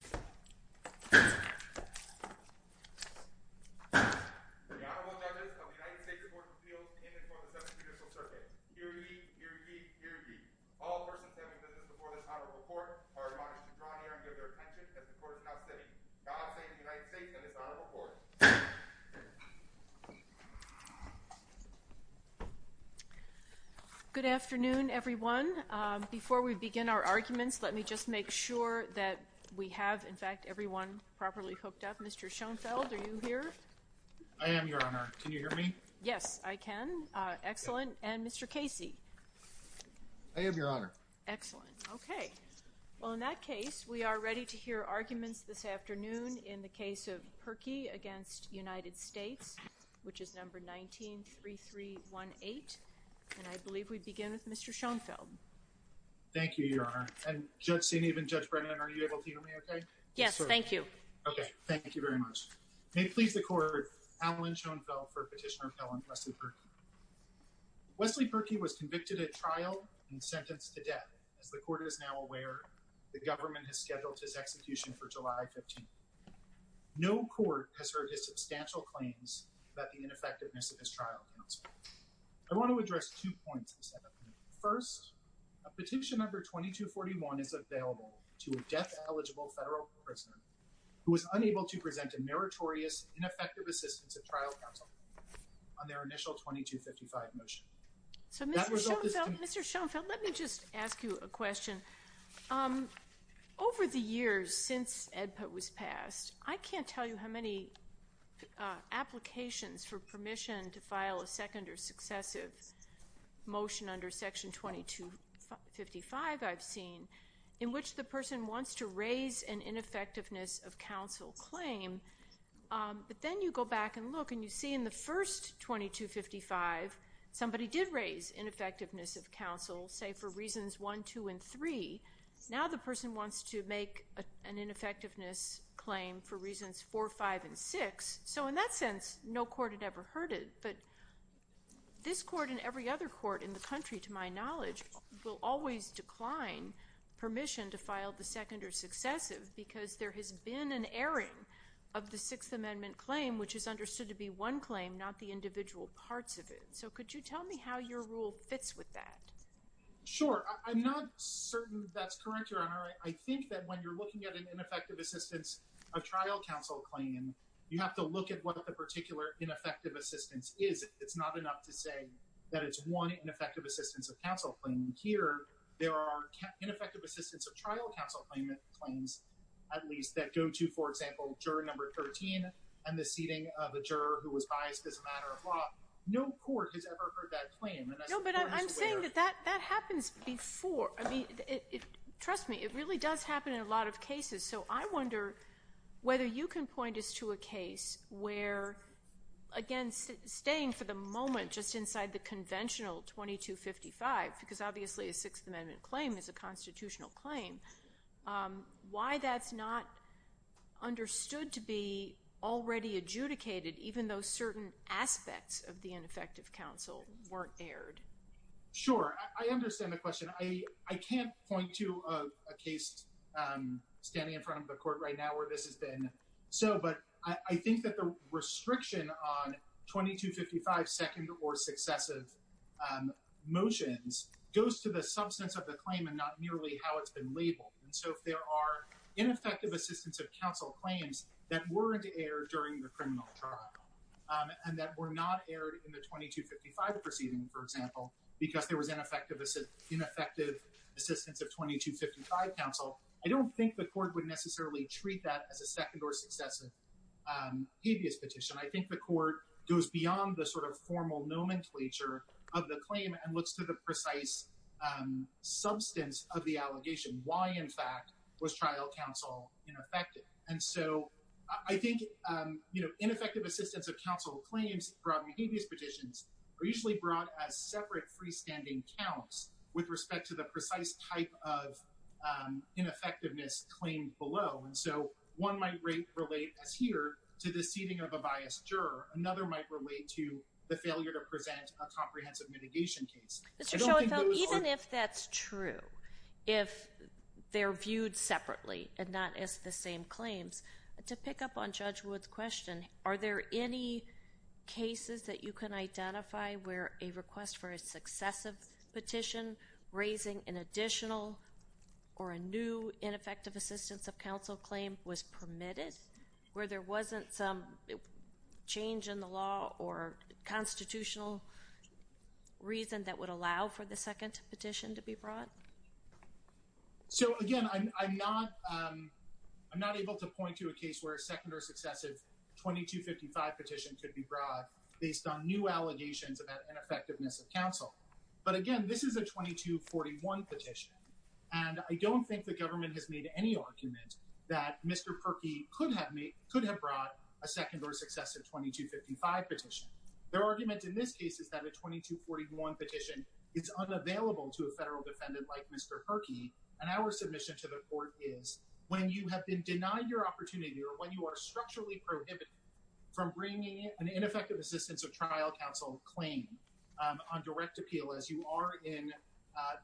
Court of Appeals in and toward the Seventh Judicial Circuit, here ye, here ye, here ye. All persons having business before this Honorable Court are admonished to draw near and give their attention as the Court is now sitting. God save the United States and this Honorable Court. Good afternoon, everyone. Before we begin our arguments, let me just make sure that we have, in fact, everyone properly hooked up. Mr. Schoenfeld, are you here? I am, Your Honor. Can you hear me? Yes, I can. Excellent. And Mr. Casey? I am, Your Honor. Excellent. Okay. Well, in that case, we are ready to hear arguments this afternoon in the case of Purkey v. United States, which is number 19-3318. And I believe we begin with Mr. Schoenfeld. Thank you, Your Honor. And Judge Senev and Judge Brennan, are you able to hear me okay? Yes, thank you. Okay, thank you very much. May it please the Court, Allen Schoenfeld for Petitioner Appeal on Wesley Purkey. Wesley Purkey was convicted at trial and sentenced to death. As the Court is now aware, the government has scheduled his execution for July 15th. No Court has heard his substantial claims about the ineffectiveness of his trial counsel. I want to address two issues. Petition number 2241 is available to a death-eligible federal prisoner who was unable to present a meritorious, ineffective assistance at trial counsel on their initial 2255 motion. So, Mr. Schoenfeld, let me just ask you a question. Over the years since AEDPA was passed, I can't tell you how many applications for permission to file a second or successive motion under Section 2255 I've seen in which the person wants to raise an ineffectiveness of counsel claim. But then you go back and look and you see in the first 2255, somebody did raise ineffectiveness of counsel, say for reasons 1, 2, and 3. Now the person wants to make an ineffectiveness claim for reasons 4, 5, and 6. So in that sense, no Court had in the country, to my knowledge, will always decline permission to file the second or successive because there has been an airing of the Sixth Amendment claim, which is understood to be one claim, not the individual parts of it. So could you tell me how your rule fits with that? Sure. I'm not certain that's correct, Your Honor. I think that when you're looking at an ineffective assistance of trial counsel claim, you have to look at what the particular ineffective assistance is. It's not enough to say that it's one ineffective assistance of counsel claim. Here, there are ineffective assistance of trial counsel claims, at least, that go to, for example, juror number 13 and the seating of a juror who was biased as a matter of law. No Court has ever heard that claim. No, but I'm saying that that happens before. I mean, trust me, it really does happen in a lot of cases. So I wonder whether you can point us to a case where, again, staying for the moment just inside the conventional 2255, because obviously a Sixth Amendment claim is a constitutional claim, why that's not understood to be already adjudicated, even though certain aspects of the ineffective counsel weren't aired? Sure. I understand the question. I can't point to a case standing in front of the Court right now where this has been so, but I think that the restriction on 2255 second or successive motions goes to the substance of the claim and not merely how it's been labeled. And so if there are ineffective assistance of counsel claims that weren't aired during the trial, because there was ineffective assistance of 2255 counsel, I don't think the Court would necessarily treat that as a second or successive habeas petition. I think the Court goes beyond the sort of formal nomenclature of the claim and looks to the precise substance of the allegation. Why, in fact, was trial counsel ineffective? And so I think ineffective assistance of counsel claims brought in habeas petitions are usually brought as separate freestanding counts with respect to the precise type of ineffectiveness claimed below. And so one might relate as here to the seating of a biased juror. Another might relate to the failure to present a comprehensive mitigation case. Mr. Schoenfeld, even if that's true, if they're viewed separately and not as the same claims, to pick up on Judge Wood's question, are there any cases that you can identify where a request for a successive petition raising an additional or a new ineffective assistance of counsel claim was permitted where there wasn't some change in the law or constitutional reason that would allow for the second petition to be brought? So, again, I'm not able to point to a case where a second or successive 2255 petition could be brought based on new allegations of ineffectiveness of counsel. But, again, this is a 2241 petition, and I don't think the government has made any argument that Mr. Perkey could have brought a second or successive 2255 petition. Their argument in this case is that a 2241 petition is unavailable to a federal defendant like Mr. Perkey, and our submission to the court is, when you have been denied your opportunity or when you are structurally prohibited from bringing an ineffective assistance of trial counsel claim on direct appeal, as you are in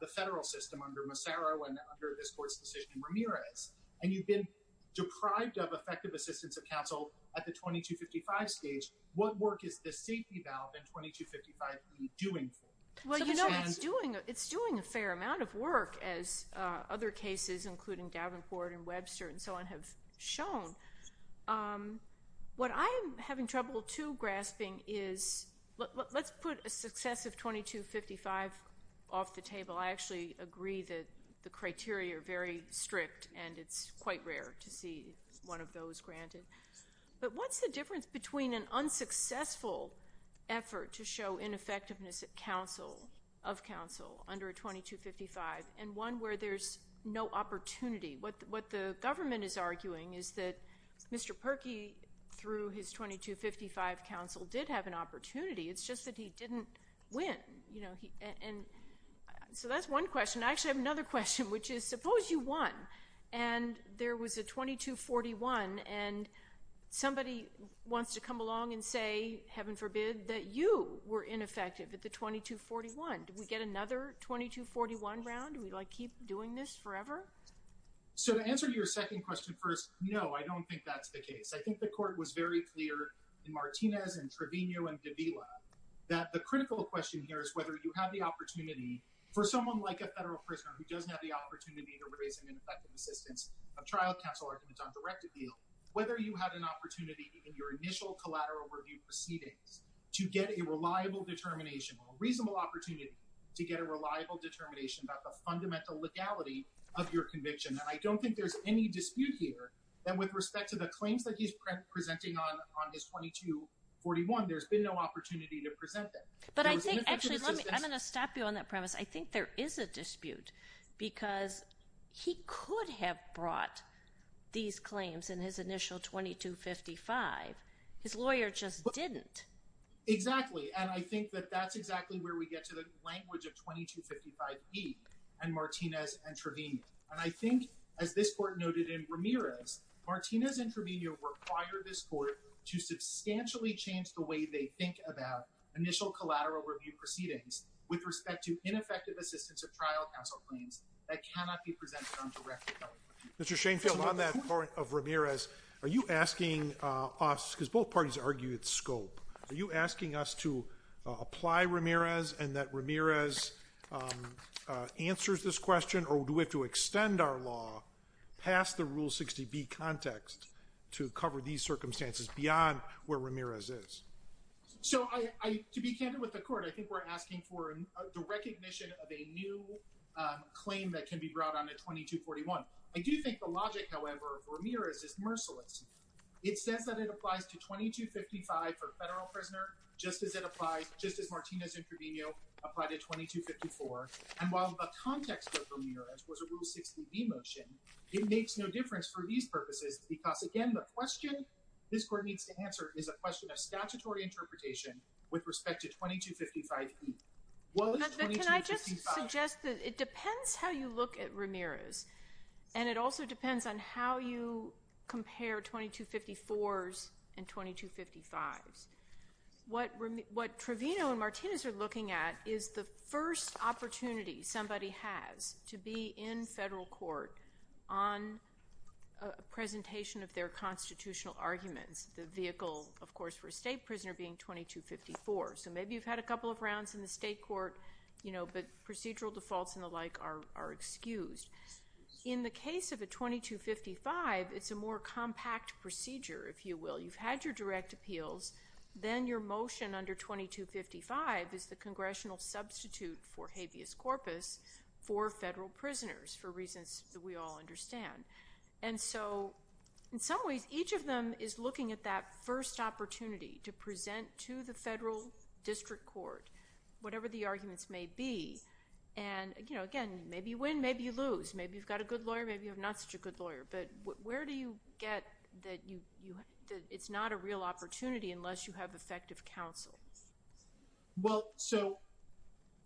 the federal system under Massaro and under this court's decision in Ramirez, and you've been deprived of effective assistance of counsel at the 2255 stage, what work is this safety valve in 2255 really doing for you? Well, you know, it's doing a fair amount of work, as other cases, including Davenport and Webster and so on, have shown. What I'm having trouble, too, grasping is, let's put a successive 2255 off the table. I actually agree that the criteria are very strict, and it's quite rare to see one of those granted. But what's the difference between an unsuccessful effort to show ineffectiveness of counsel under a 2255 and one where there's no opportunity? What the government is arguing is that Mr. Perkey, through his 2255 counsel, did have an opportunity. It's just that he didn't win. So that's one question. I actually have another question, which is, suppose you won, and there was a 2241, and somebody wants to come along and say, heaven forbid, that you were ineffective at the 2241. Do we get another 2241 round? Do we, like, keep doing this forever? So to answer your second question first, no, I don't think that's the case. I think the court was very clear in Martinez and Trevino and Davila that the critical question here is whether you have the opportunity for someone like a federal prisoner who doesn't have the opportunity to raise an ineffective assistance of trial counsel arguments on direct appeal, whether you had an opportunity in your initial collateral review proceedings to get a reliable determination, a reasonable opportunity to get a reliable determination about the fundamental legality of your conviction. And I don't think there's any dispute here that with respect to the claims that he's presenting on his 2241, there's been no opportunity to present them. But I think, actually, I'm going to stop you on that premise. I think there is a dispute because he could have brought these claims in his initial 2255. His lawyer just didn't. Exactly. And I think that that's exactly where we get to the language of 2255e and Martinez and Trevino. And I think, as this court noted in Ramirez, Martinez and Trevino required this court to substantially change the way they think about initial collateral review proceedings with respect to ineffective assistance of trial counsel claims that cannot be presented on direct appeal. Mr. Shainfield, on that point of Ramirez, are you asking us, because both parties argued scope, are you asking us to apply Ramirez and that Ramirez answers this question or do we have to extend our law past the Rule 60b context to cover these circumstances beyond where Ramirez is? So, to be candid with the court, I think we're asking for the recognition of a new claim that can be brought on at 2241. I do think the logic, however, of Ramirez is merciless. It says that it applies to 2255 for federal prisoner just as it applies, just as Martinez and Trevino apply to 2254. And while the context of Ramirez was a Rule 60b motion, it makes no difference for these purposes because, again, the question this court needs to answer is a question of statutory interpretation with respect to 2255e. What was 2255? Can I just suggest that it depends how you look at Ramirez, and it also depends on how you compare 2254s and 2255s. What Trevino and Martinez are looking at is the first opportunity somebody has to be in federal court on a presentation of their constitutional arguments, the vehicle, of course, for a state prisoner being 2254. So maybe you've had a couple of rounds in the state court, you know, but procedural defaults and the like are excused. In the case of a 2255, it's a more compact procedure, if you will. You've had your direct appeals. Then your motion under 2255 is the congressional substitute for habeas corpus for federal prisoners for reasons that we all understand. And so in some ways, each of them is looking at that first opportunity to present to the federal district court whatever the arguments may be. And, you know, again, maybe you win, maybe you lose. Maybe you've got a good lawyer, maybe you have not such a good lawyer. But where do you get that it's not a real opportunity unless you have effective counsel? Well, so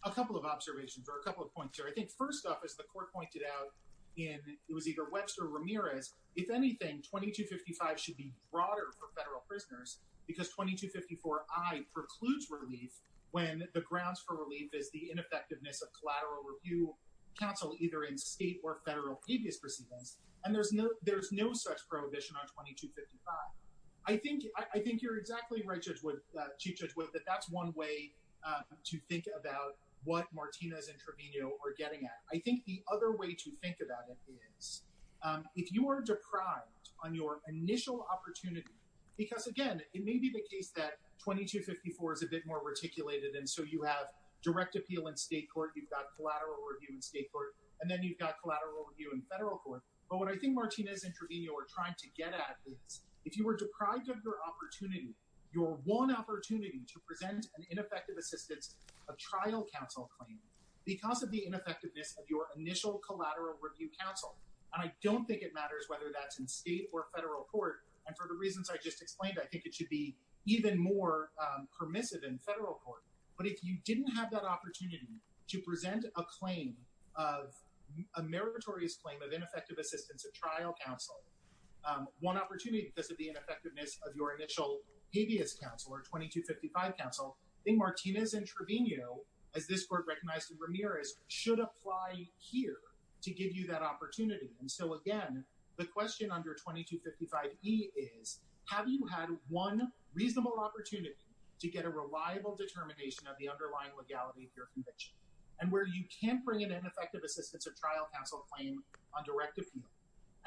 a couple of observations or a couple of points here. I think first off, as the court pointed out, it was either Webster or Ramirez. If anything, 2255 should be broader for federal prisoners because 2254I precludes relief when the grounds for relief is the ineffectiveness of collateral review counsel either in state or federal habeas proceedings. And there's no such prohibition on 2255. I think you're exactly right, Chief Judge Wood, that that's one way to think about what Martinez and Trevino are getting at. I think the other way to think about it is if you are deprived on your initial opportunity because, again, it may be the case that 2254 is a bit more reticulated and so you have direct appeal in state court, you've got collateral review in state court, and then you've got collateral review in federal court. But what I think Martinez and Trevino are trying to get at is if you were deprived of your opportunity, your one opportunity to present an ineffective assistance of trial counsel claim because of the ineffectiveness of your initial collateral review counsel. And I don't think it matters whether that's in state or federal court. And for the reasons I just explained, I think it should be even more permissive in federal court. But if you didn't have that opportunity to present a claim of a meritorious claim of ineffective assistance of trial counsel, one opportunity because of the ineffectiveness of your initial habeas counsel or 2255 counsel, I think Martinez and Trevino, as this court recognized in Ramirez, should apply here to give you that opportunity. And so, again, the question under 2255E is have you had one reasonable opportunity to get a reliable determination of the underlying legality of your conviction? And where you can't bring an ineffective assistance of trial counsel claim on direct appeal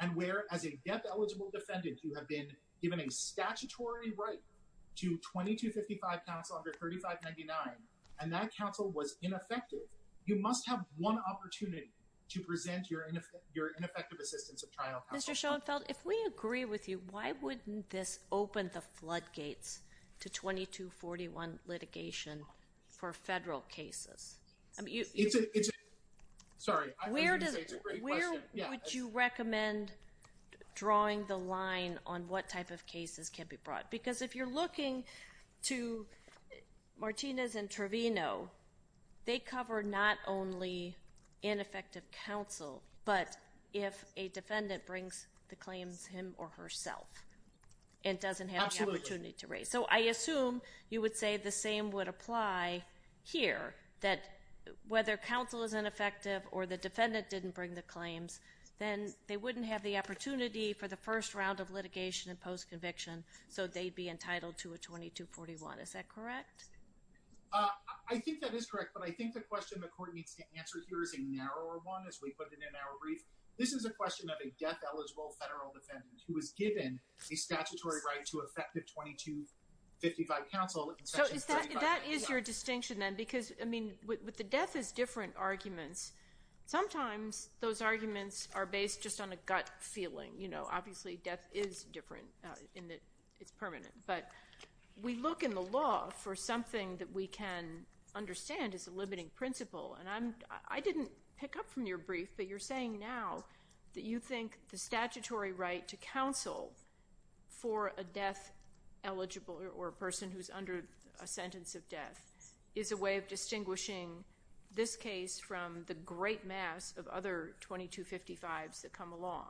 and where, as a death-eligible defendant, you have been given a statutory right to 2255 counsel under 3599 and that counsel was ineffective, you must have one opportunity to present your ineffective assistance of trial counsel. Mr. Schoenfeld, if we agree with you, why wouldn't this open the floodgates to 2241 litigation for federal cases? It's a great question. Where would you recommend drawing the line on what type of cases can be brought? They cover not only ineffective counsel, but if a defendant brings the claims him or herself and doesn't have the opportunity to raise. So I assume you would say the same would apply here, that whether counsel is ineffective or the defendant didn't bring the claims, then they wouldn't have the opportunity for the first round of litigation in post-conviction so they'd be entitled to a 2241. Is that correct? I think that is correct, but I think the question the court needs to answer here is a narrower one, as we put it in our brief. This is a question of a death-eligible federal defendant who was given a statutory right to effective 2255 counsel in Section 3599. So that is your distinction, then, because, I mean, with the death is different arguments, sometimes those arguments are based just on a gut feeling. Obviously death is different in that it's permanent, but we look in the law for something that we can understand is a limiting principle, and I didn't pick up from your brief, but you're saying now that you think the statutory right to counsel for a death-eligible or a person who's under a sentence of death is a way of distinguishing this case from the great mass of other 2255s that come along.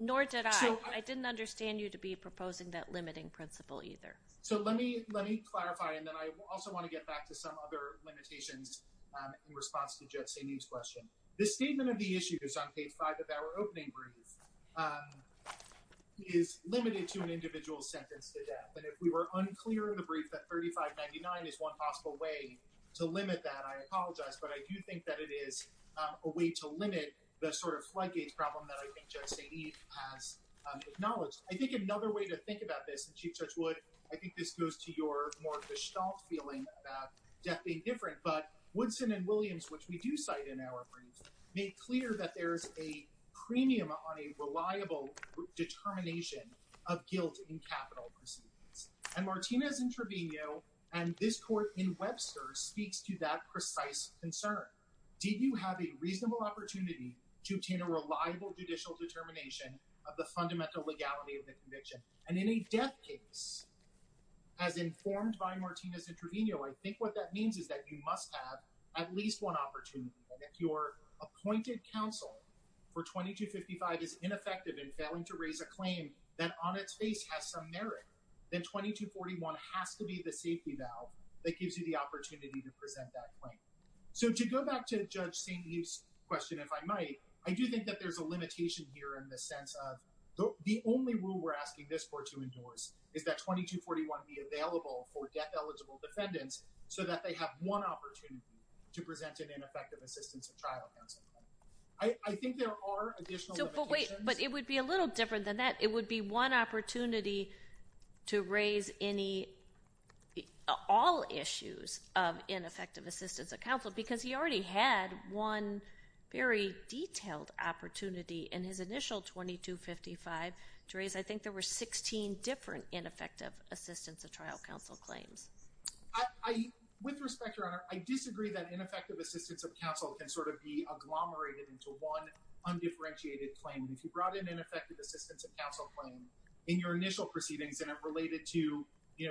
Nor did I. So I didn't understand you to be proposing that limiting principle either. So let me clarify, and then I also want to get back to some other limitations in response to Judge Saini's question. The statement of the issues on page 5 of our opening brief is limited to an individual's sentence to death, and if we were unclear in the brief that 3599 is one possible way to limit that, I apologize, but I do think that it is a way to limit the sort of floodgates problem that I think Judge Saini has acknowledged. I think another way to think about this, and Chief Judge Wood, I think this goes to your more gestalt feeling about death being different, but Woodson and Williams, which we do cite in our briefs, made clear that there's a premium on a reliable determination of guilt in capital proceedings, and Martinez and Trevino and this court in Webster speaks to that precise concern. Did you have a reasonable opportunity to obtain a reliable judicial determination of the fundamental legality of the conviction? And in a death case, as informed by Martinez and Trevino, I think what that means is that you must have at least one opportunity, and if your appointed counsel for 2255 is ineffective in failing to raise a claim that on its face has some merit, then 2241 has to be the safety valve that gives you the opportunity to present that claim. So to go back to Judge Saini's question, if I might, I do think that there's a limitation here in the sense of the only rule we're asking this court to endorse is that 2241 be available for death-eligible defendants so that they have one opportunity to present an ineffective assistance of trial counsel claim. I think there are additional limitations. But wait, but it would be a little different than that. It would be one opportunity to raise all issues of ineffective assistance of counsel because he already had one very detailed opportunity in his initial 2255 to raise, I think there were 16 different ineffective assistance of trial counsel claims. With respect, Your Honor, I disagree that ineffective assistance of counsel can sort of be agglomerated into one undifferentiated claim. If you brought in ineffective assistance of counsel claim in your initial proceedings and it related to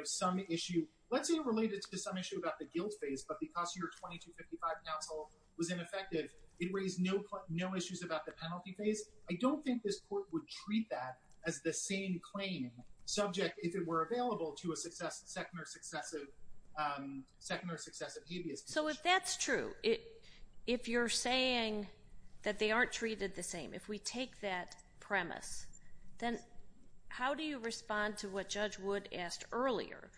some issue, let's say it related to some issue about the guilt phase, but because your 2255 counsel was ineffective, it raised no issues about the penalty phase, I don't think this court would treat that as the same claim subject, if it were available, to a second or successive habeas condition. So if that's true, if you're saying that they aren't treated the same, if we take that premise, then how do you respond to what Judge Wood asked earlier?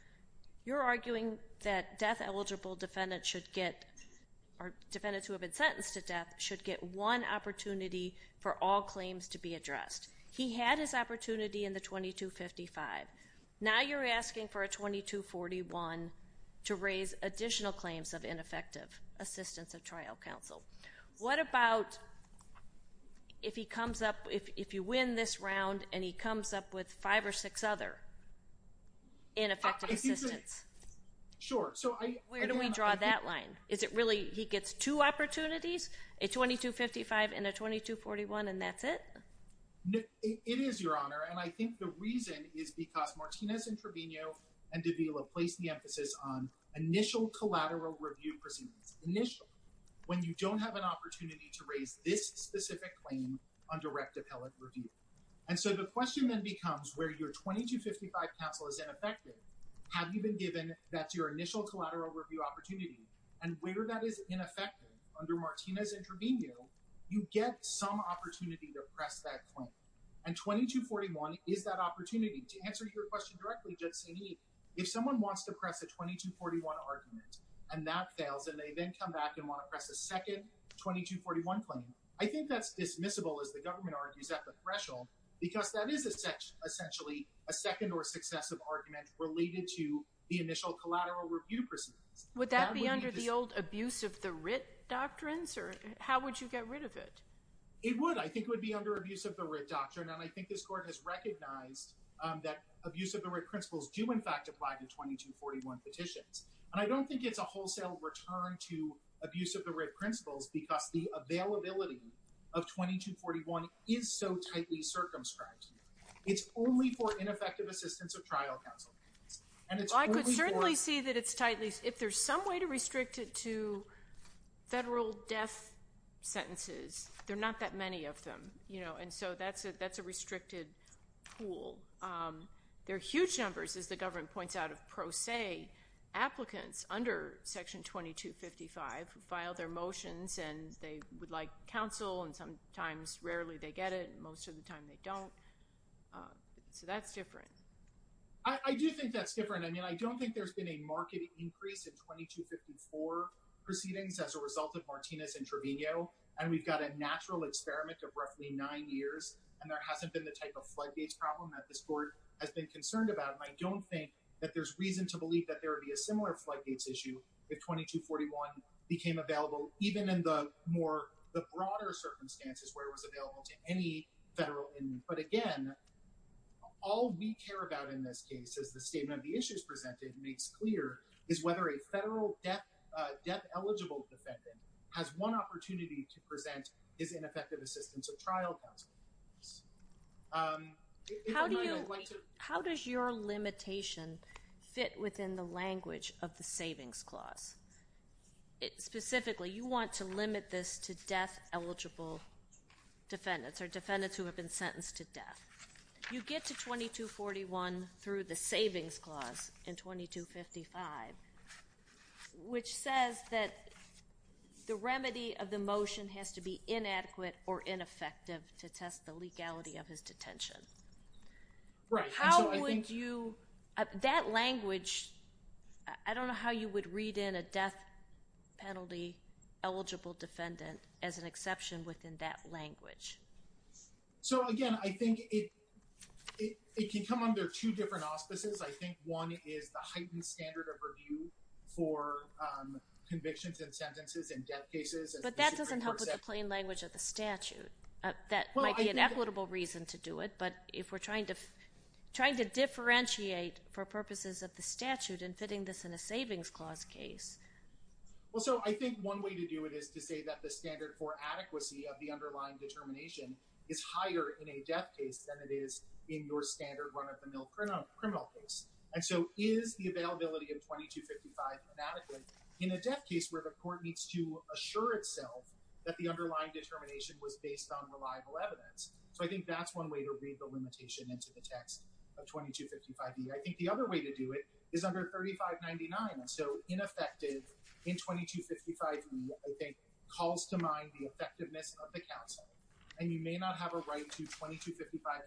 You're arguing that death-eligible defendants should get, or defendants who have been sentenced to death should get one opportunity for all claims to be addressed. He had his opportunity in the 2255. Now you're asking for a 2241 to raise additional claims of ineffective assistance of trial counsel. What about if he comes up, if you win this round, and he comes up with five or six other ineffective assistance? Sure. Where do we draw that line? Is it really he gets two opportunities, a 2255 and a 2241, and that's it? It is, Your Honor, and I think the reason is because Martinez and Trevino and Davila placed the emphasis on initial collateral review proceedings. It's initial when you don't have an opportunity to raise this specific claim on direct appellate review. And so the question then becomes where your 2255 counsel is ineffective, have you been given that's your initial collateral review opportunity, and where that is ineffective under Martinez and Trevino, you get some opportunity to press that claim. And 2241 is that opportunity. To answer your question directly, Judge Saini, if someone wants to press a 2241 argument and that fails and they then come back and want to press a second 2241 claim, I think that's dismissible as the government argues at the threshold because that is essentially a second or successive argument related to the initial collateral review proceedings. Would that be under the old abuse of the writ doctrines, or how would you get rid of it? It would. I think it would be under abuse of the writ doctrine, and I think this Court has recognized that abuse of the writ principles do, in fact, apply to 2241 petitions. And I don't think it's a wholesale return to abuse of the writ principles because the availability of 2241 is so tightly circumscribed. It's only for ineffective assistance of trial counsel. I could certainly see that it's tightly. If there's some way to restrict it to federal death sentences, there are not that many of them. And so that's a restricted pool. There are huge numbers, as the government points out, of pro se applicants under Section 2255 who filed their motions and they would like counsel, and sometimes rarely they get it, and most of the time they don't. So that's different. I do think that's different. I mean, I don't think there's been a marked increase in 2254 proceedings as a result of Martinez and Trevino, and we've got a natural experiment of roughly nine years, and there hasn't been the type of floodgates problem that this Court has been concerned about, and I don't think that there's reason to believe that there would be a similar floodgates issue if 2241 became available even in the broader circumstances where it was available to any federal inmate. But again, all we care about in this case, as the statement of the issues presented makes clear, is whether a federal death-eligible defendant has one opportunity to present his ineffective assistance or trial counsel. How does your limitation fit within the language of the Savings Clause? Specifically, you want to limit this to death-eligible defendants You get to 2241 through the Savings Clause in 2255, which says that the remedy of the motion has to be inadequate or ineffective to test the legality of his detention. Right. How would you, that language, I don't know how you would read in a death-penalty-eligible defendant as an exception within that language. So again, I think it can come under two different auspices. I think one is the heightened standard of review for convictions and sentences in death cases. But that doesn't help with the plain language of the statute. That might be an equitable reason to do it, but if we're trying to differentiate for purposes of the statute and fitting this in a Savings Clause case. Well, so I think one way to do it is to say that the standard for adequacy of the underlying determination is higher in a death case than it is in your standard run-of-the-mill criminal case. And so is the availability of 2255 inadequate in a death case where the court needs to assure itself that the underlying determination was based on reliable evidence? So I think that's one way to read the limitation into the text of 2255B. I think the other way to do it is under 3599. So ineffective in 2255B, I think, calls to mind the effectiveness of the counsel. And you may not have a right to 2255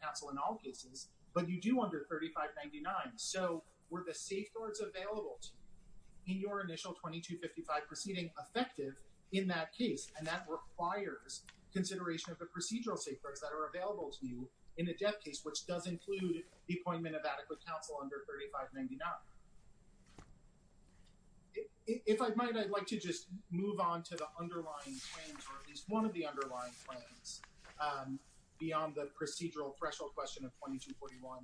counsel in all cases, but you do under 3599. So were the safeguards available to you in your initial 2255 proceeding effective in that case? And that requires consideration of the procedural safeguards that are available to you in a death case, which does include the appointment of adequate counsel under 3599. If I might, I'd like to just move on to the underlying claims, or at least one of the underlying claims, beyond the procedural threshold question of 2241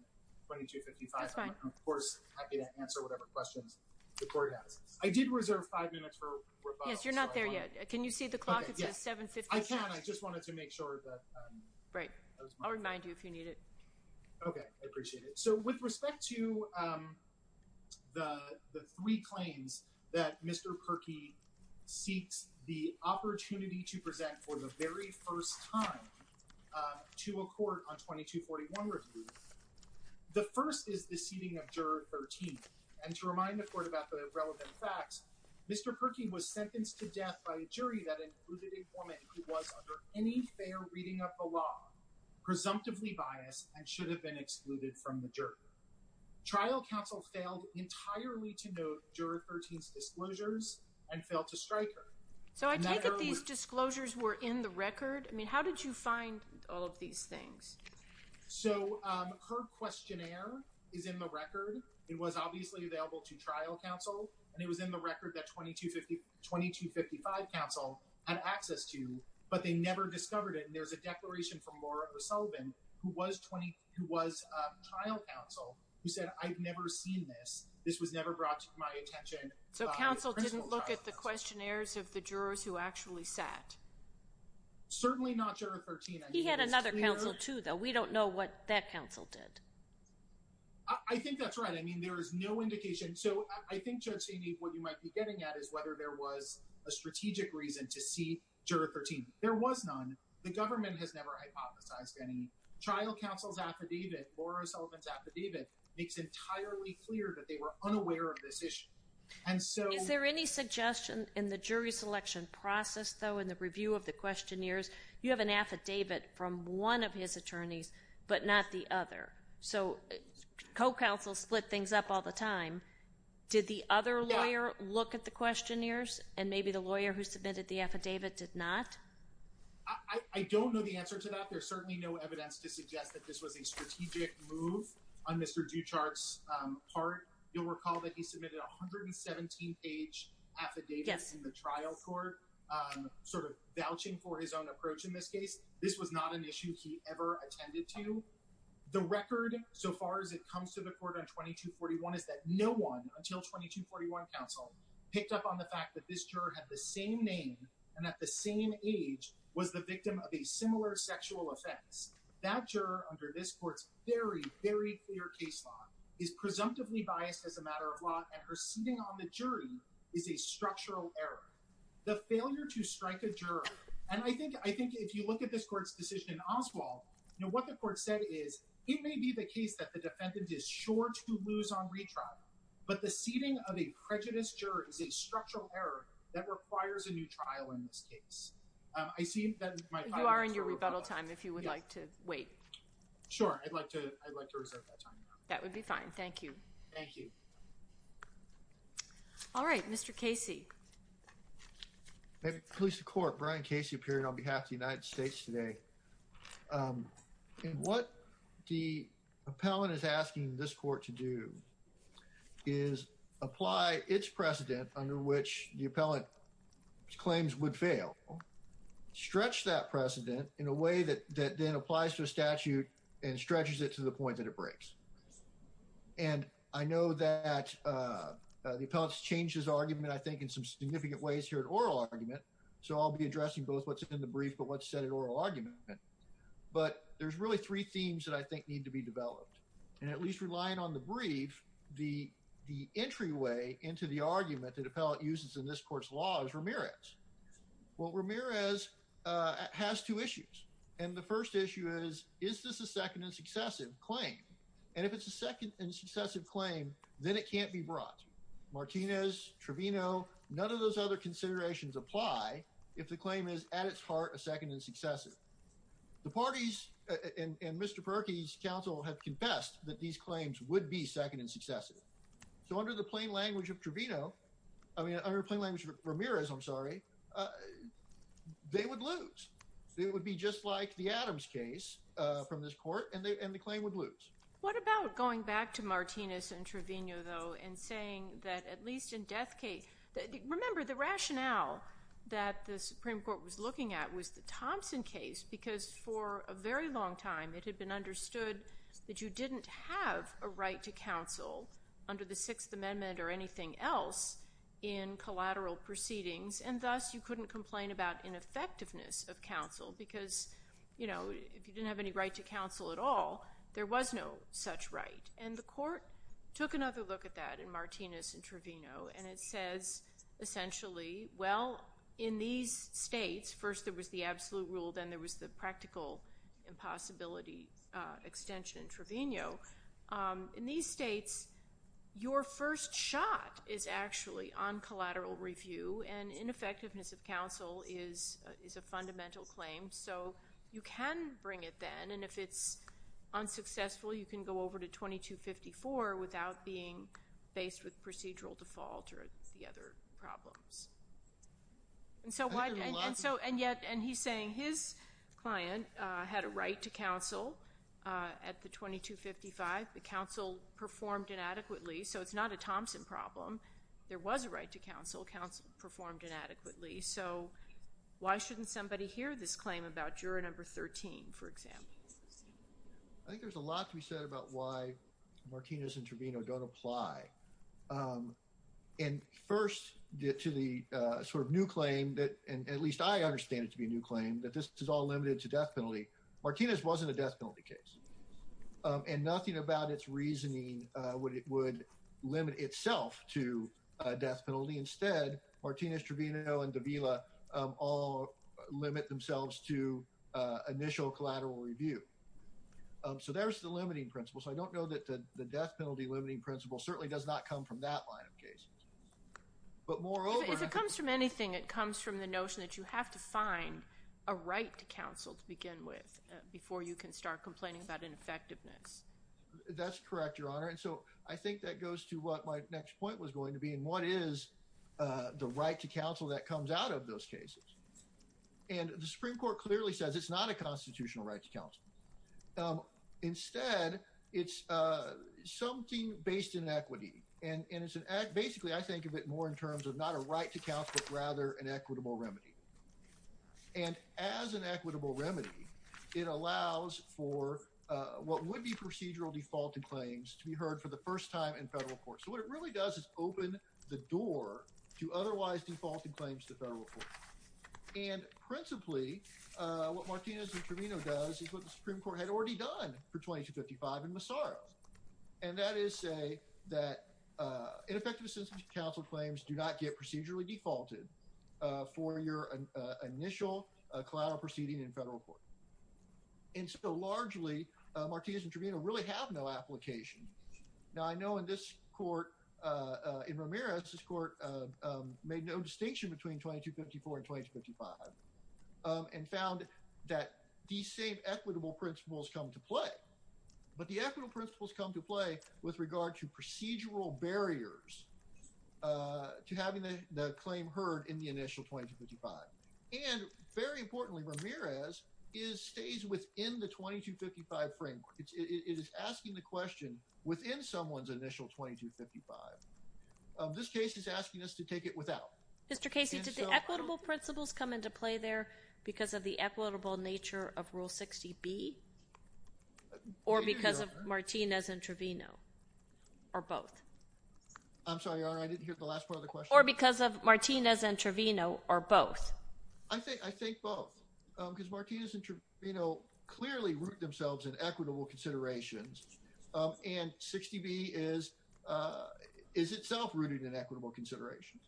and 2255. I'm, of course, happy to answer whatever questions the court has. I did reserve five minutes for rebuttal. Yes, you're not there yet. Can you see the clock? It says 7.50 past. I can. I just wanted to make sure that I was mindful. Right. I'll remind you if you need it. Okay. I appreciate it. So with respect to the three claims that Mr. Perkey seeks the opportunity to present for the very first time to a court on 2241 review, the first is the seating of juror 13. And to remind the court about the relevant facts, Mr. Perkey was sentenced to death by a jury that included a woman who was under any fair reading of the law, presumptively biased, and should have been excluded from the jury. Trial counsel failed entirely to note juror 13's disclosures and failed to strike her. So I take it these disclosures were in the record? I mean, how did you find all of these things? It was obviously available to trial counsel, and it was in the record that 2255 counsel had access to, but they never discovered it. And there's a declaration from Laura O'Sullivan, who was trial counsel, who said, I've never seen this. This was never brought to my attention. So counsel didn't look at the questionnaires of the jurors who actually sat? Certainly not juror 13. He had another counsel, too, though. We don't know what that counsel did. I think that's right. I mean, there is no indication. So I think, Judge Saini, what you might be getting at is whether there was a strategic reason to see juror 13. There was none. The government has never hypothesized any. Trial counsel's affidavit, Laura O'Sullivan's affidavit, makes entirely clear that they were unaware of this issue. Is there any suggestion in the jury selection process, though, in the review of the questionnaires, you have an affidavit from one of his attorneys, but not the other? So co-counsel split things up all the time. Did the other lawyer look at the questionnaires, and maybe the lawyer who submitted the affidavit did not? I don't know the answer to that. There's certainly no evidence to suggest that this was a strategic move on Mr. Duchart's part. You'll recall that he submitted a 117-page affidavit in the trial court, sort of vouching for his own approach in this case. This was not an issue he ever attended to. The record, so far as it comes to the court on 2241, is that no one, until 2241 counsel, picked up on the fact that this juror had the same name and at the same age was the victim of a similar sexual offense. That juror, under this court's very, very clear case law, is presumptively biased as a matter of law, and her seating on the jury is a structural error. The failure to strike a juror, and I think if you look at this court's decision in Oswald, what the court said is it may be the case that the defendant is sure to lose on retrial, but the seating of a prejudiced juror is a structural error that requires a new trial in this case. You are in your rebuttal time, if you would like to wait. Sure, I'd like to reserve that time. That would be fine. Thank you. Thank you. All right, Mr. Casey. Police of Court, Brian Casey, appearing on behalf of the United States today. And what the appellant is asking this court to do is apply its precedent under which the appellant's claims would fail, stretch that precedent in a way that then applies to a statute and stretches it to the point that it breaks. And I know that the appellant's changed his argument, I think, in some significant ways here in oral argument, so I'll be addressing both what's in the brief but what's said in oral argument. But there's really three themes that I think need to be developed. And at least relying on the brief, the entryway into the argument that appellant uses in this court's law is Ramirez. Well, Ramirez has two issues. And the first issue is, is this a second and successive claim? And if it's a second and successive claim, then it can't be brought. Martinez, Trevino, none of those other considerations apply if the claim is, at its heart, a second and successive. The parties and Mr. Perkey's counsel have confessed that these claims would be second and successive. So under the plain language of Trevino, I mean, under the plain language of Ramirez, I'm sorry, they would lose. It would be just like the Adams case from this court and the claim would lose. What about going back to Martinez and Trevino, though, and saying that at least in death case, remember, the rationale that the Supreme Court was looking at was the Thompson case because for a very long time it had been understood that you didn't have a right to counsel under the Sixth Amendment or anything else in collateral proceedings, and thus you couldn't complain about ineffectiveness of counsel because if you didn't have any right to counsel at all, there was no such right. And the court took another look at that in Martinez and Trevino, and it says essentially, well, in these states, first there was the absolute rule, then there was the practical impossibility extension in Trevino. In these states, your first shot is actually on collateral review, and ineffectiveness of counsel is a fundamental claim. So you can bring it then, and if it's unsuccessful, you can go over to 2254 without being faced with procedural default or the other problems. And he's saying his client had a right to counsel at the 2255. The counsel performed inadequately, so it's not a Thompson problem. There was a right to counsel. Counsel performed inadequately. So why shouldn't somebody hear this claim about juror number 13, for example? I think there's a lot to be said about why Martinez and Trevino don't apply. And first, to the sort of new claim, and at least I understand it to be a new claim, that this is all limited to death penalty, Martinez wasn't a death penalty case. And nothing about its reasoning would limit itself to a death penalty. Instead, Martinez, Trevino, and Davila all limit themselves to initial collateral review. So there's the limiting principle. So I don't know that the death penalty limiting principle certainly does not come from that line of case. But moreover— If it comes from anything, it comes from the notion that you have to find a right to counsel to begin with before you can start complaining about ineffectiveness. That's correct, Your Honor. And so I think that goes to what my next point was going to be, and what is the right to counsel that comes out of those cases. And the Supreme Court clearly says it's not a constitutional right to counsel. Instead, it's something based in equity. And basically, I think of it more in terms of not a right to counsel, but rather an equitable remedy. And as an equitable remedy, it allows for what would be procedural defaulted claims to be heard for the first time in federal court. So what it really does is open the door to otherwise defaulted claims to federal court. And principally, what Martinez and Trevino does is what the Supreme Court had already done for 2255 and Massaro. And that is say that ineffective assistance to counsel claims do not get procedurally defaulted for your initial collateral proceeding in federal court. And so largely, Martinez and Trevino really have no application. Now, I know in this court, in Ramirez's court, made no distinction between 2254 and 2255, and found that these same equitable principles come to play. But the equitable principles come to play with regard to procedural barriers to having the claim heard in the initial 2255. And very importantly, Ramirez stays within the 2255 framework. It is asking the question within someone's initial 2255. This case is asking us to take it without. Mr. Casey, did the equitable principles come into play there because of the equitable nature of Rule 60B? Or because of Martinez and Trevino? Or both? I'm sorry, Your Honor, I didn't hear the last part of the question. Or because of Martinez and Trevino, or both? I think both. Because Martinez and Trevino clearly root themselves in equitable considerations. And 60B is itself rooted in equitable considerations.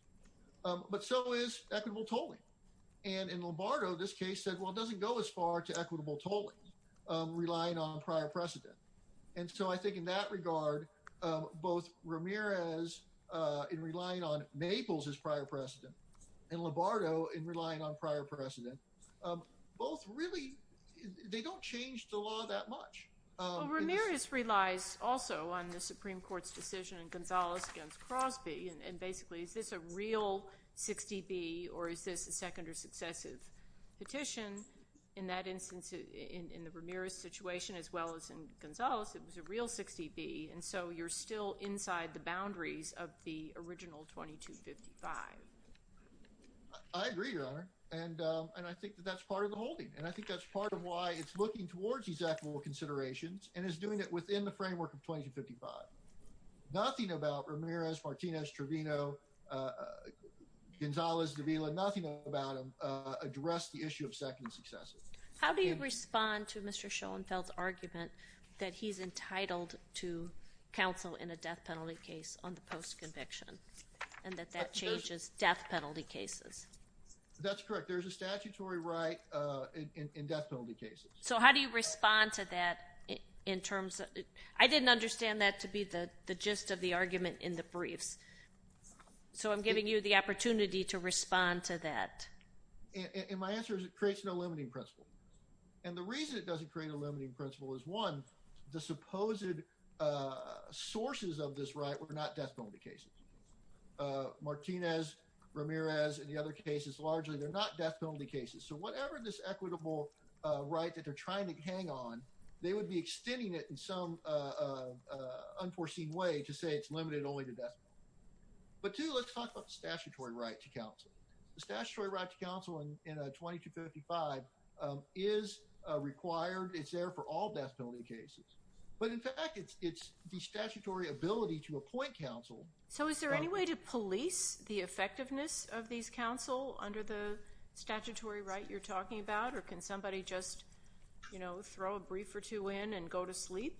But so is equitable tolling. And in Lombardo, this case said, well, it doesn't go as far to equitable tolling, relying on prior precedent. And so I think in that regard, both Ramirez in relying on Maples as prior precedent, and Lombardo in relying on prior precedent, both really, they don't change the law that much. Well, Ramirez relies also on the Supreme Court's decision in Gonzales against Crosby. And basically, is this a real 60B, or is this a second or successive petition? In that instance, in the Ramirez situation as well as in Gonzales, it was a real 60B. And so you're still inside the boundaries of the original 2255. I agree, Your Honor. And I think that that's part of the holding. And I think that's part of why it's looking towards these equitable considerations and is doing it within the framework of 2255. Nothing about Ramirez, Martinez, Trevino, Gonzales, Davila, nothing about them address the issue of second and successive. How do you respond to Mr. Schoenfeld's argument that he's entitled to counsel in a death penalty case on the post-conviction, and that that changes death penalty cases? That's correct. There's a statutory right in death penalty cases. So how do you respond to that in terms of – I didn't understand that to be the gist of the argument in the briefs. So I'm giving you the opportunity to respond to that. And my answer is it creates no limiting principle. And the reason it doesn't create a limiting principle is, one, the supposed sources of this right were not death penalty cases. Martinez, Ramirez, and the other cases largely, they're not death penalty cases. So whatever this equitable right that they're trying to hang on, they would be extending it in some unforeseen way to say it's limited only to death penalty. But, two, let's talk about the statutory right to counsel. The statutory right to counsel in 2255 is required. It's there for all death penalty cases. But, in fact, it's the statutory ability to appoint counsel. So is there any way to police the effectiveness of these counsel under the statutory right you're talking about? Or can somebody just, you know, throw a brief or two in and go to sleep?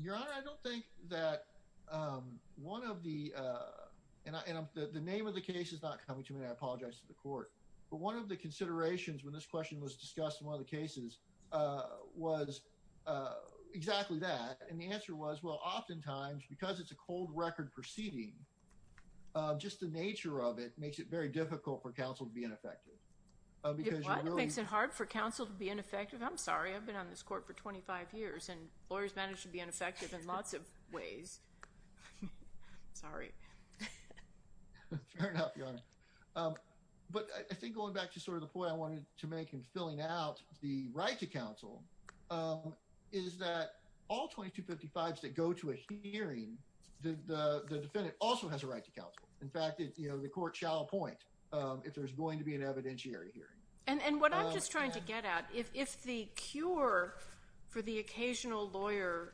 Your Honor, I don't think that one of the – and the name of the case is not coming to me. I apologize to the court. But one of the considerations when this question was discussed in one of the cases was exactly that. And the answer was, well, oftentimes, because it's a cold record proceeding, just the nature of it makes it very difficult for counsel to be ineffective. It makes it hard for counsel to be ineffective? I'm sorry. I've been on this court for 25 years, and lawyers manage to be ineffective in lots of ways. Sorry. Fair enough, Your Honor. But I think going back to sort of the point I wanted to make in filling out the right to counsel is that all 2255s that go to a hearing, the defendant also has a right to counsel. In fact, you know, the court shall appoint if there's going to be an evidentiary hearing. And what I'm just trying to get at, if the cure for the occasional lawyer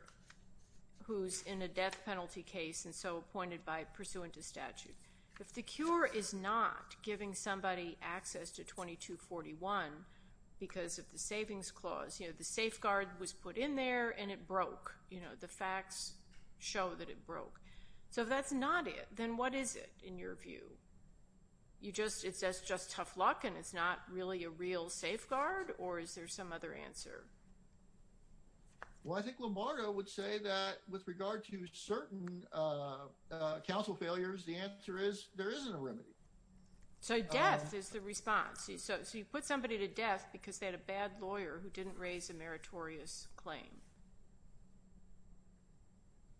who's in a death penalty case and so appointed by pursuant to statute, if the cure is not giving somebody access to 2241 because of the savings clause, you know, the safeguard was put in there, and it broke. You know, the facts show that it broke. So if that's not it, then what is it in your view? It's just tough luck, and it's not really a real safeguard, or is there some other answer? Well, I think Lombardo would say that with regard to certain counsel failures, the answer is there isn't a remedy. So death is the response. So you put somebody to death because they had a bad lawyer who didn't raise a meritorious claim.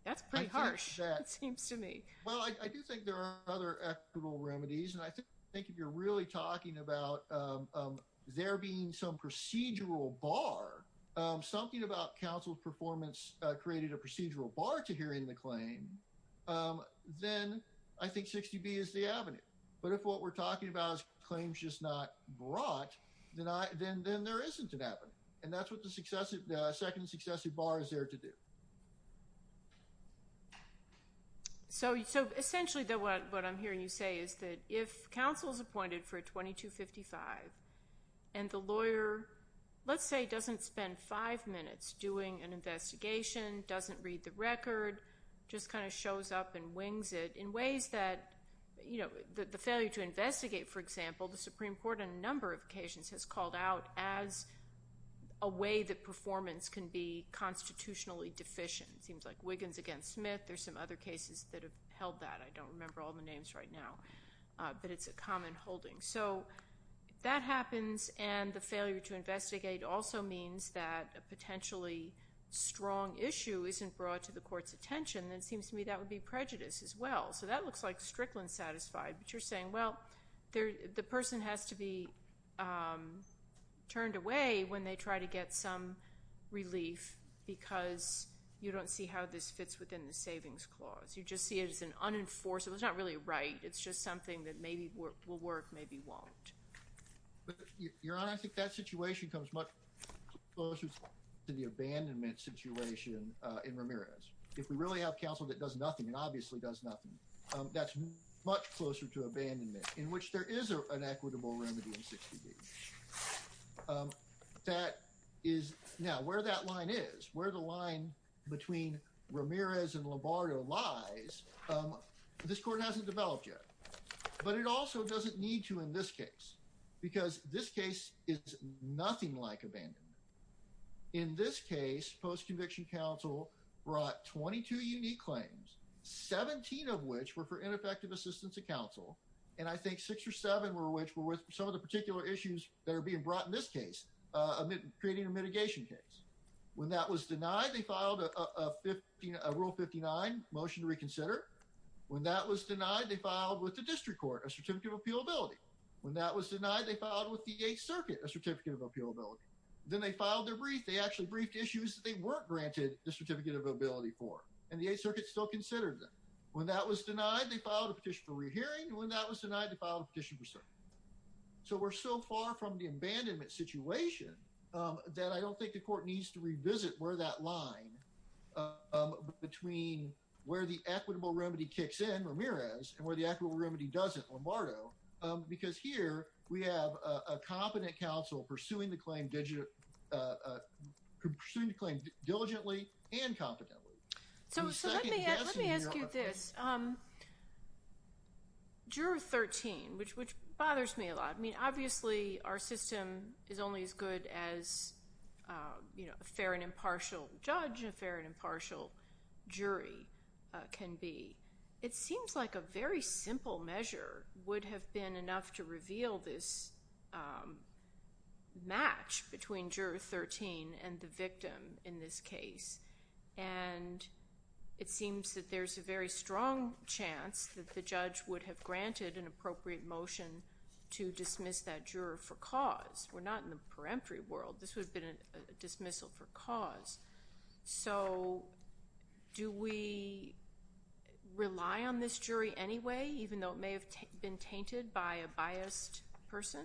That's pretty harsh, it seems to me. Well, I do think there are other equitable remedies, and I think if you're really talking about there being some procedural bar, something about counsel's performance created a procedural bar to hearing the claim, then I think 60B is the avenue. But if what we're talking about is claims just not brought, then there isn't an avenue. And that's what the second successive bar is there to do. So essentially what I'm hearing you say is that if counsel is appointed for a 2255, and the lawyer, let's say, doesn't spend five minutes doing an investigation, doesn't read the record, just kind of shows up and wings it in ways that, you know, the failure to investigate, for example, the Supreme Court on a number of occasions has called out as a way that performance can be constitutionally deficient. It seems like Wiggins against Smith. There are some other cases that have held that. I don't remember all the names right now, but it's a common holding. So that happens, and the failure to investigate also means that a potentially strong issue isn't brought to the court's attention, and it seems to me that would be prejudice as well. So that looks like Strickland satisfied. But you're saying, well, the person has to be turned away when they try to get some relief because you don't see how this fits within the savings clause. You just see it as an unenforceable. It's not really right. It's just something that maybe will work, maybe won't. Your Honor, I think that situation comes much closer to the abandonment situation in Ramirez. If we really have counsel that does nothing and obviously does nothing, that's much closer to abandonment in which there is an equitable remedy in 60D. Now, where that line is, where the line between Ramirez and Lombardo lies, this court hasn't developed yet, but it also doesn't need to in this case because this case is nothing like abandonment. In this case, post-conviction counsel brought 22 unique claims, 17 of which were for ineffective assistance of counsel, and I think six or seven were which were with some of the particular issues that are being brought in this case, creating a mitigation case. When that was denied, they filed a Rule 59 motion to reconsider. When that was denied, they filed with the district court a certificate of appealability. When that was denied, they filed with the Eighth Circuit a certificate of appealability. Then they filed their brief. They actually briefed issues that they weren't granted the certificate of appealability for, and the Eighth Circuit still considered them. When that was denied, they filed a petition for rehearing, and when that was denied, they filed a petition for cert. So, we're so far from the abandonment situation that I don't think the court needs to revisit where that line between where the equitable remedy kicks in, Ramirez, and where the equitable remedy doesn't, Lombardo, because here we have a competent counsel pursuing the claim diligently and competently. So, let me ask you this. Juror 13, which bothers me a lot. I mean, obviously, our system is only as good as, you know, a fair and impartial judge and a fair and impartial jury can be. It seems like a very simple measure would have been enough to reveal this match between Juror 13 and the victim in this case, and it seems that there's a very strong chance that the judge would have granted an appropriate motion to dismiss that juror for cause. We're not in the peremptory world. This would have been a dismissal for cause. So, do we rely on this jury anyway, even though it may have been tainted by a biased person?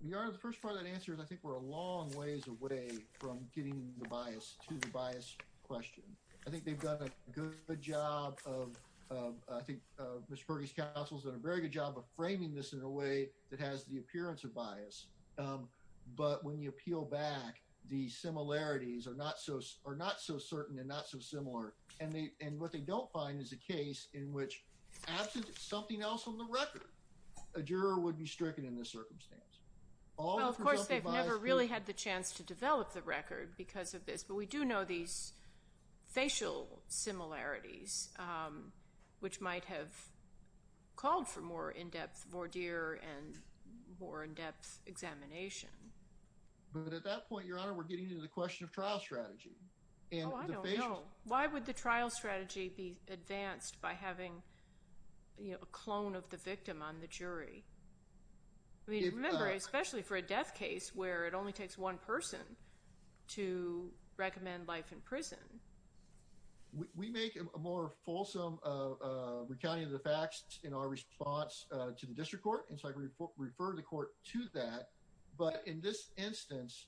Your Honor, the first part of that answer is I think we're a long ways away from getting the bias to the bias question. I think they've done a good job of, I think Mr. Perkins' counsel has done a very good job of framing this in a way that has the appearance of bias. But when you peel back, the similarities are not so certain and not so similar, and what they don't find is a case in which, absent something else on the record, a juror would be stricken in this circumstance. Well, of course, they've never really had the chance to develop the record because of this, but we do know these facial similarities, which might have called for more in-depth voir dire and more in-depth examination. But at that point, Your Honor, we're getting into the question of trial strategy. Oh, I don't know. Why would the trial strategy be advanced by having a clone of the victim on the jury? Remember, especially for a death case where it only takes one person to recommend life in prison. We make a more fulsome recounting of the facts in our response to the district court, and so I refer the court to that. But in this instance,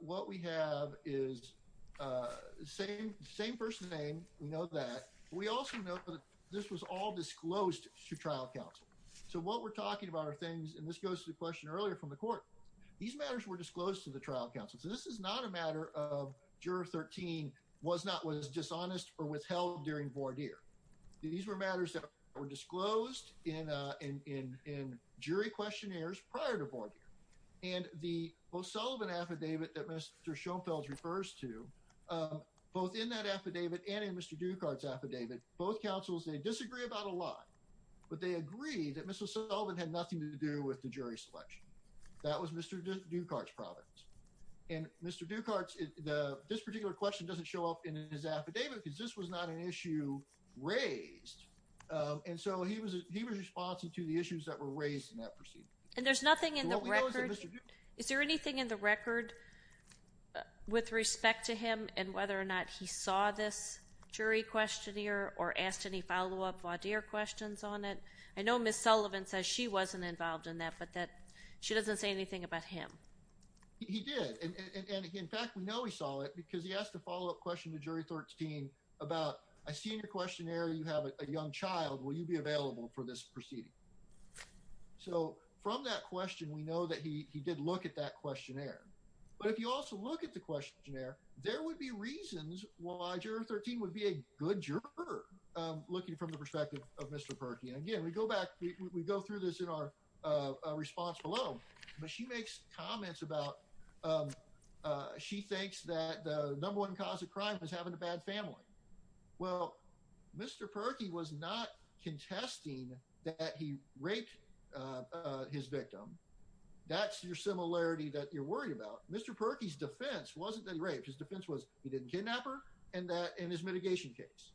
what we have is the same person's name. We know that. We also know that this was all disclosed to trial counsel. So what we're talking about are things, and this goes to the question earlier from the court, these matters were disclosed to the trial counsel. So this is not a matter of Juror 13 was not, was dishonest or withheld during voir dire. These were matters that were disclosed in jury questionnaires prior to voir dire. And the Ms. O'Sullivan affidavit that Mr. Schoenfeld refers to, both in that affidavit and in Mr. Dukart's affidavit, both counsels, they disagree about a lot, but they agree that Ms. O'Sullivan had nothing to do with the jury selection. That was Mr. Dukart's province. And Mr. Dukart's, this particular question doesn't show up in his affidavit because this was not an issue raised. And so he was responding to the issues that were raised in that proceeding. And there's nothing in the record. Is there anything in the record with respect to him and whether or not he saw this jury questionnaire or asked any follow-up voir dire questions on it? I know Ms. O'Sullivan says she wasn't involved in that, but that she doesn't say anything about him. He did. And in fact, we know he saw it because he asked a follow-up question to Jury 13 about a senior questionnaire. You have a young child. Will you be available for this proceeding? So from that question, we know that he did look at that questionnaire. But if you also look at the questionnaire, there would be reasons why Jury 13 would be a good juror looking from the perspective of Mr. Perkey. And again, we go back, we go through this in our response below. But she makes comments about she thinks that the number one cause of crime is having a bad family. Well, Mr. Perkey was not contesting that he raped his victim. That's your similarity that you're worried about. Mr. Perkey's defense wasn't that he raped. His defense was he didn't kidnap her in his mitigation case.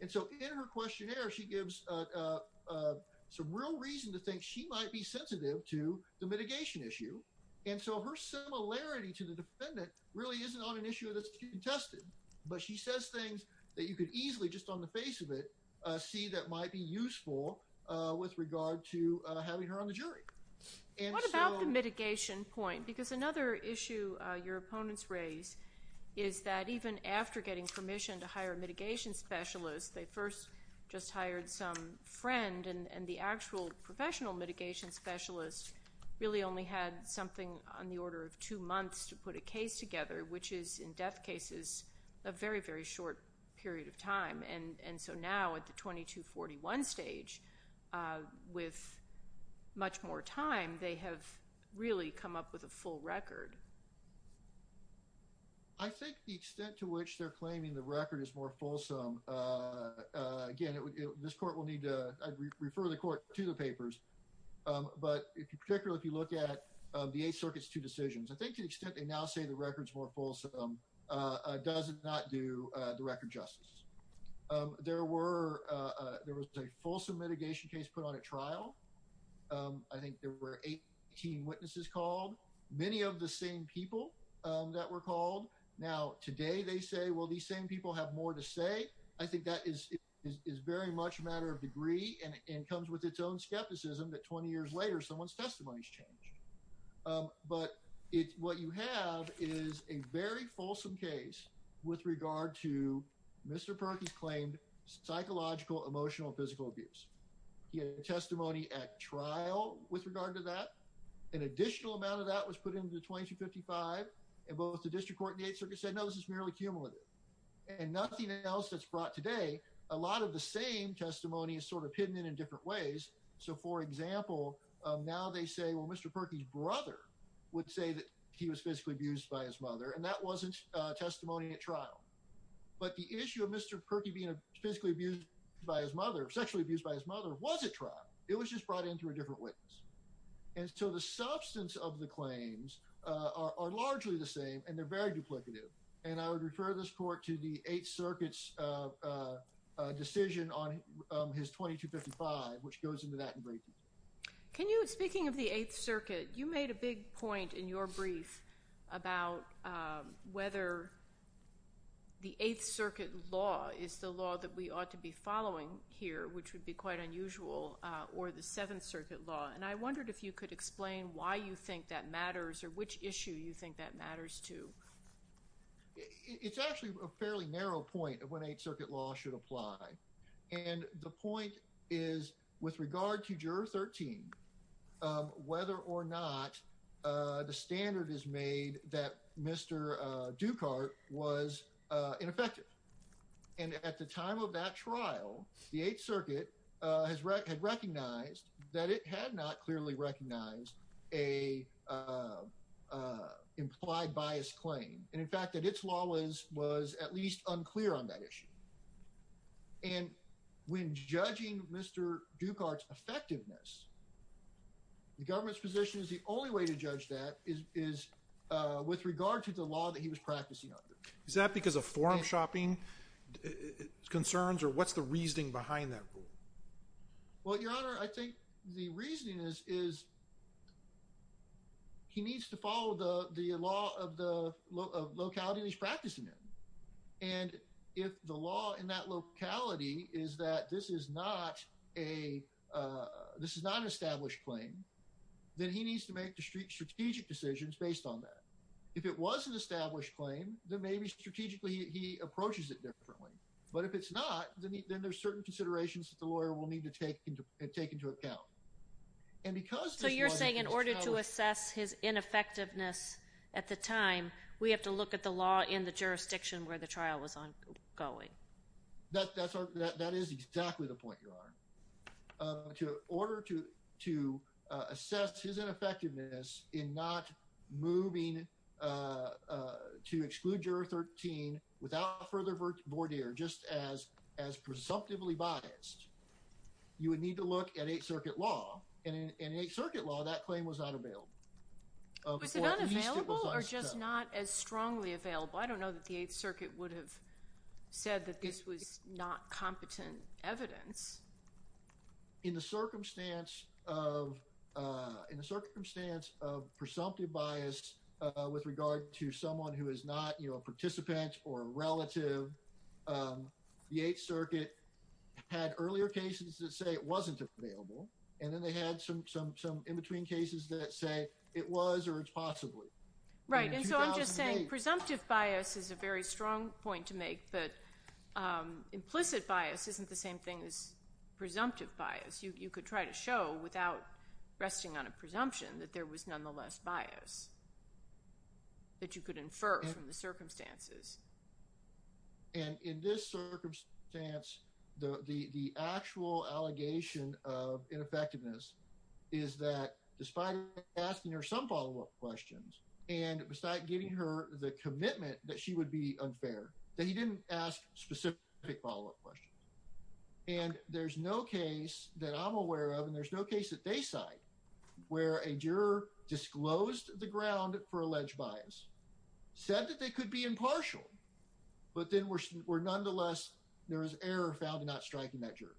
And so in her questionnaire, she gives some real reason to think she might be sensitive to the mitigation issue. And so her similarity to the defendant really isn't on an issue that's contested. But she says things that you could easily, just on the face of it, see that might be useful with regard to having her on the jury. What about the mitigation point? Because another issue your opponents raise is that even after getting permission to hire a mitigation specialist, they first just hired some friend and the actual professional mitigation specialist really only had something on the order of two months to put a case together, which is, in death cases, a very, very short period of time. And so now at the 2241 stage, with much more time, they have really come up with a full record. I think the extent to which they're claiming the record is more fulsome, again, this court will need to refer the court to the papers. But particularly if you look at the Eighth Circuit's two decisions, I think to the extent they now say the record's more fulsome does not do the record justice. There was a fulsome mitigation case put on at trial. I think there were 18 witnesses called, many of the same people that were called. Now, today they say, well, these same people have more to say. I think that is very much a matter of degree and comes with its own skepticism that 20 years later someone's testimony's changed. But what you have is a very fulsome case with regard to Mr. Perkins' claimed psychological, emotional, physical abuse. He had a testimony at trial with regard to that. An additional amount of that was put into the 2255, and both the district court and the Eighth Circuit said, no, this is merely cumulative. And nothing else that's brought today, a lot of the same testimony is sort of hidden in different ways. So, for example, now they say, well, Mr. Perkins' brother would say that he was physically abused by his mother, and that wasn't testimony at trial. But the issue of Mr. Perkins being physically abused by his mother, sexually abused by his mother, was at trial. It was just brought in through a different witness. And so the substance of the claims are largely the same, and they're very duplicative. And I would refer this court to the Eighth Circuit's decision on his 2255, which goes into that in great detail. Can you, speaking of the Eighth Circuit, you made a big point in your brief about whether the Eighth Circuit law is the law that we ought to be following here, which would be quite unusual, or the Seventh Circuit law. And I wondered if you could explain why you think that matters, or which issue you think that matters to. It's actually a fairly narrow point of when Eighth Circuit law should apply. And the point is, with regard to Juror 13, whether or not the standard is made that Mr. Ducart was ineffective. And at the time of that trial, the Eighth Circuit had recognized that it had not clearly recognized an implied biased claim. And in fact, that its law was at least unclear on that issue. And when judging Mr. Ducart's effectiveness, the government's position is the only way to judge that is with regard to the law that he was practicing under. Is that because of forum shopping concerns, or what's the reasoning behind that rule? Well, Your Honor, I think the reasoning is he needs to follow the law of the locality he's practicing in. And if the law in that locality is that this is not an established claim, then he needs to make strategic decisions based on that. If it was an established claim, then maybe strategically he approaches it differently. But if it's not, then there's certain considerations that the lawyer will need to take into account. So you're saying in order to assess his ineffectiveness at the time, we have to look at the law in the jurisdiction where the trial was ongoing? That is exactly the point, Your Honor. In order to assess his ineffectiveness in not moving to exclude Juror 13 without further voir dire, just as presumptively biased, you would need to look at Eighth Circuit law. And in Eighth Circuit law, that claim was not available. Was it unavailable or just not as strongly available? I don't know that the Eighth Circuit would have said that this was not competent evidence. In the circumstance of presumptive bias with regard to someone who is not a participant or a relative, the Eighth Circuit had earlier cases that say it wasn't available. And then they had some in-between cases that say it was or it's possibly. Right. And so I'm just saying presumptive bias is a very strong point to make. But implicit bias isn't the same thing as presumptive bias. You could try to show without resting on a presumption that there was nonetheless bias that you could infer from the circumstances. And in this circumstance, the actual allegation of ineffectiveness is that despite asking her some follow-up questions and besides giving her the commitment that she would be unfair, that he didn't ask specific follow-up questions. And there's no case that I'm aware of and there's no case that they cite where a juror disclosed the ground for alleged bias, said that they could be impartial, but then were nonetheless there was error found in not striking that juror.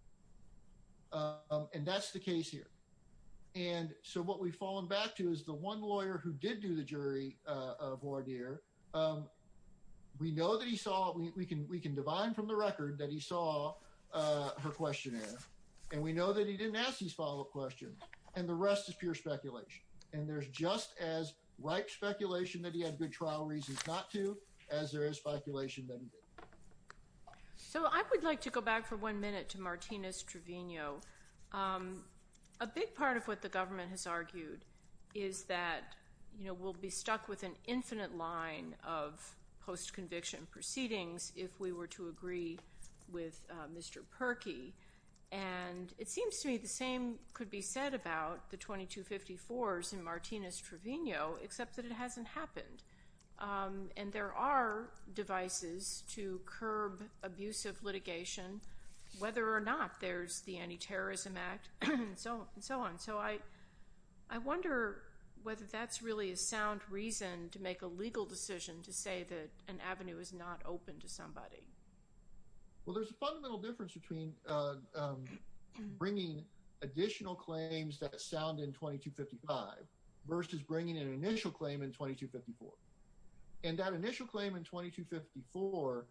And that's the case here. And so what we've fallen back to is the one lawyer who did do the jury of Vordir, we know that he saw, we can divine from the record that he saw her questionnaire. And we know that he didn't ask these follow-up questions. And the rest is pure speculation. And there's just as ripe speculation that he had good trial reasons not to as there is speculation that he did. So I would like to go back for one minute to Martinez-Trevino. A big part of what the government has argued is that, you know, we'll be stuck with an infinite line of post-conviction proceedings if we were to agree with Mr. Perkey. And it seems to me the same could be said about the 2254s in Martinez-Trevino, except that it hasn't happened. And there are devices to curb abusive litigation, whether or not there's the Anti-Terrorism Act and so on. So I wonder whether that's really a sound reason to make a legal decision to say that an avenue is not open to somebody. Well, there's a fundamental difference between bringing additional claims that sound in 2255 versus bringing an initial claim in 2254. And that initial claim in 2254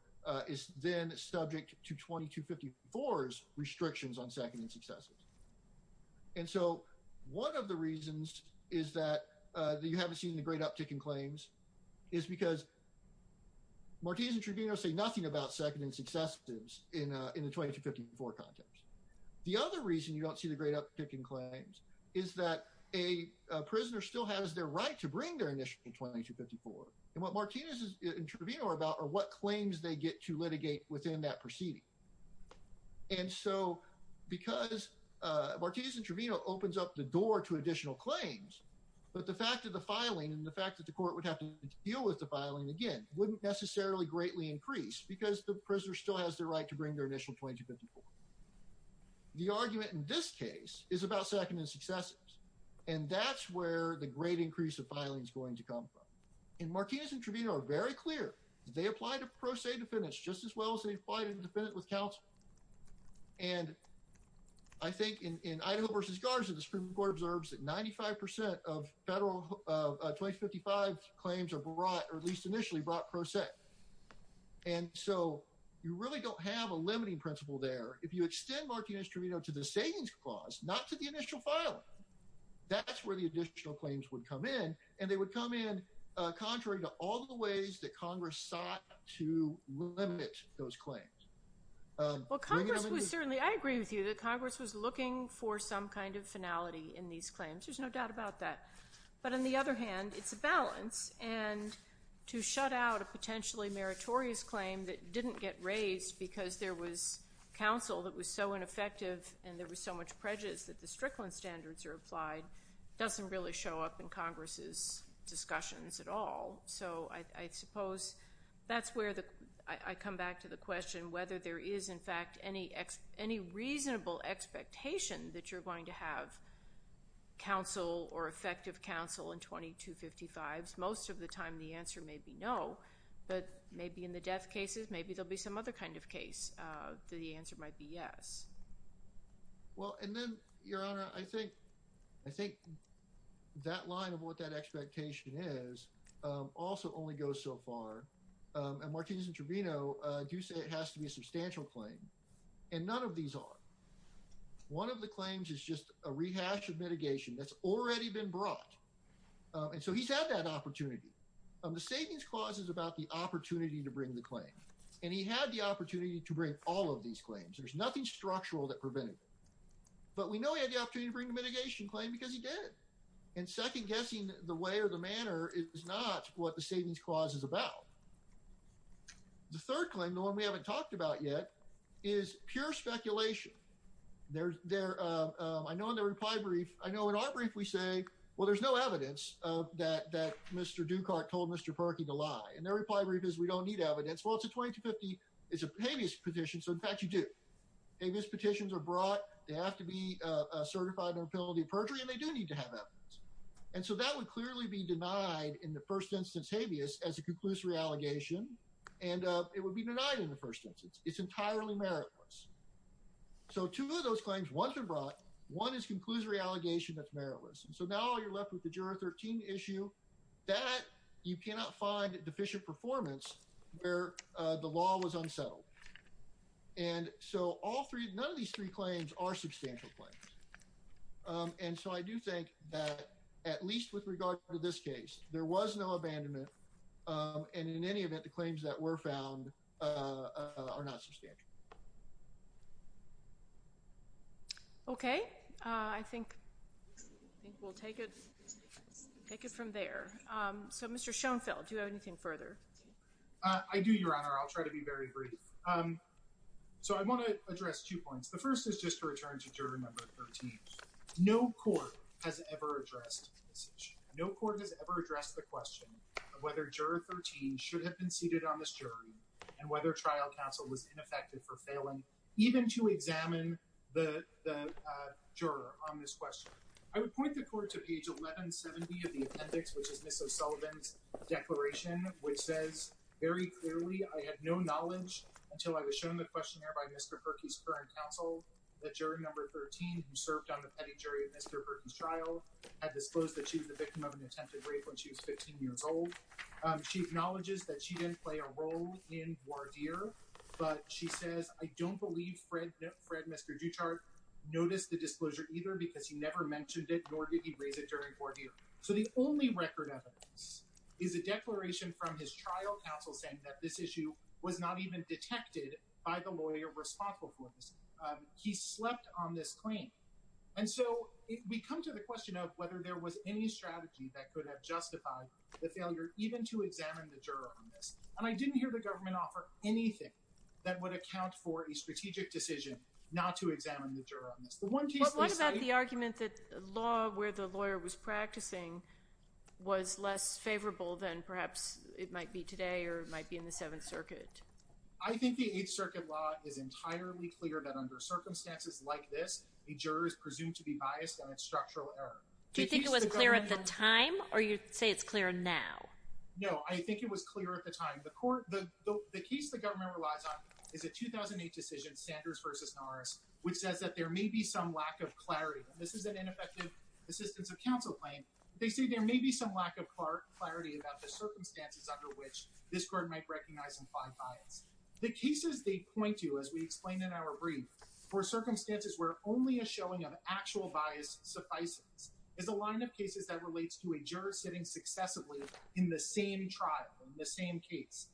is then subject to 2254's restrictions on second and successors. And so one of the reasons is that you haven't seen the great uptick in claims is because Martinez-Trevino say nothing about second and successors in the 2254 context. The other reason you don't see the great uptick in claims is that a prisoner still has their right to bring their initial 2254. And what Martinez-Trevino are about are what claims they get to litigate within that proceeding. And so because Martinez-Trevino opens up the door to additional claims, but the fact of the filing and the fact that the court would have to deal with the filing again wouldn't necessarily greatly increase because the prisoner still has the right to bring their initial 2254. The argument in this case is about second and successors. And that's where the great increase of filing is going to come from. And Martinez-Trevino are very clear. They apply to pro se defendants just as well as they apply to the defendant with counsel. And I think in Idaho versus Garza, the Supreme Court observes that 95% of federal 2055 claims are brought or at least initially brought pro se. And so you really don't have a limiting principle there. If you extend Martinez-Trevino to the savings clause, not to the initial filing, that's where the additional claims would come in. And they would come in contrary to all the ways that Congress sought to limit those claims. Well, Congress was certainly, I agree with you, that Congress was looking for some kind of finality in these claims. There's no doubt about that. But on the other hand, it's a balance. And to shut out a potentially meritorious claim that didn't get raised because there was counsel that was so ineffective and there was so much prejudice that the Strickland standards are applied doesn't really show up in Congress's discussions at all. So I suppose that's where I come back to the question whether there is, in fact, any reasonable expectation that you're going to have counsel or effective counsel in 2255s. Most of the time the answer may be no. But maybe in the death cases, maybe there will be some other kind of case that the answer might be yes. Well, and then, Your Honor, I think that line of what that expectation is also only goes so far. And Martinez and Trevino do say it has to be a substantial claim. And none of these are. One of the claims is just a rehash of mitigation that's already been brought. And so he's had that opportunity. The savings clause is about the opportunity to bring the claim. And he had the opportunity to bring all of these claims. There's nothing structural that prevented it. But we know he had the opportunity to bring the mitigation claim because he did. And second, guessing the way or the manner is not what the savings clause is about. The third claim, the one we haven't talked about yet, is pure speculation. I know in the reply brief, I know in our brief we say, well, there's no evidence that Mr. Dukart told Mr. Perkey to lie. And their reply brief is we don't need evidence. Well, it's a 2250. It's a habeas petition. So, in fact, you do. Habeas petitions are brought. They have to be certified under penalty of perjury, and they do need to have evidence. And so that would clearly be denied in the first instance habeas as a conclusory allegation. And it would be denied in the first instance. It's entirely meritless. So two of those claims, one has been brought. One is a conclusory allegation that's meritless. And so now you're left with the Juror 13 issue. That you cannot find deficient performance where the law was unsettled. And so all three, none of these three claims are substantial claims. And so I do think that at least with regard to this case, there was no abandonment. And in any event, the claims that were found are not substantial. Okay. I think we'll take it from there. So, Mr. Schoenfeld, do you have anything further? I do, Your Honor. I'll try to be very brief. So I want to address two points. The first is just to return to Juror Number 13. No court has ever addressed this issue. No court has ever addressed the question of whether Juror 13 should have been seated on this jury and whether trial counsel was ineffective for failing even to examine the juror on this question. I would point the court to page 1170 of the appendix, which is Ms. O'Sullivan's declaration, which says, very clearly, I had no knowledge until I was shown the questionnaire by Mr. Perkey's current counsel that Juror Number 13, who served on the petty jury of Mr. Perkey's trial, had disclosed that she was the victim of an attempted rape when she was 15 years old. She acknowledges that she didn't play a role in voir dire, but she says, I don't believe Fred, Mr. Duchart, noticed the disclosure either because he never mentioned it, nor did he raise it during voir dire. So the only record evidence is a declaration from his trial counsel saying that this issue was not even detected by the lawyer responsible for this. He slept on this claim. And so we come to the question of whether there was any strategy that could have justified the failure even to examine the juror on this. And I didn't hear the government offer anything that would account for a strategic decision not to examine the juror on this. What about the argument that law where the lawyer was practicing was less favorable than perhaps it might be today or it might be in the Seventh Circuit? I think the Eighth Circuit law is entirely clear that under circumstances like this, a juror is presumed to be biased on its structural error. Do you think it was clear at the time or you say it's clear now? No, I think it was clear at the time. The case the government relies on is a 2008 decision, Sanders v. Norris, which says that there may be some lack of clarity. This is an ineffective assistance of counsel claim. They say there may be some lack of clarity about the circumstances under which this court might recognize implied bias. The cases they point to, as we explained in our brief, for circumstances where only a showing of actual bias suffices, is a line of cases that relates to a juror sitting successively in the same trial, in the same case.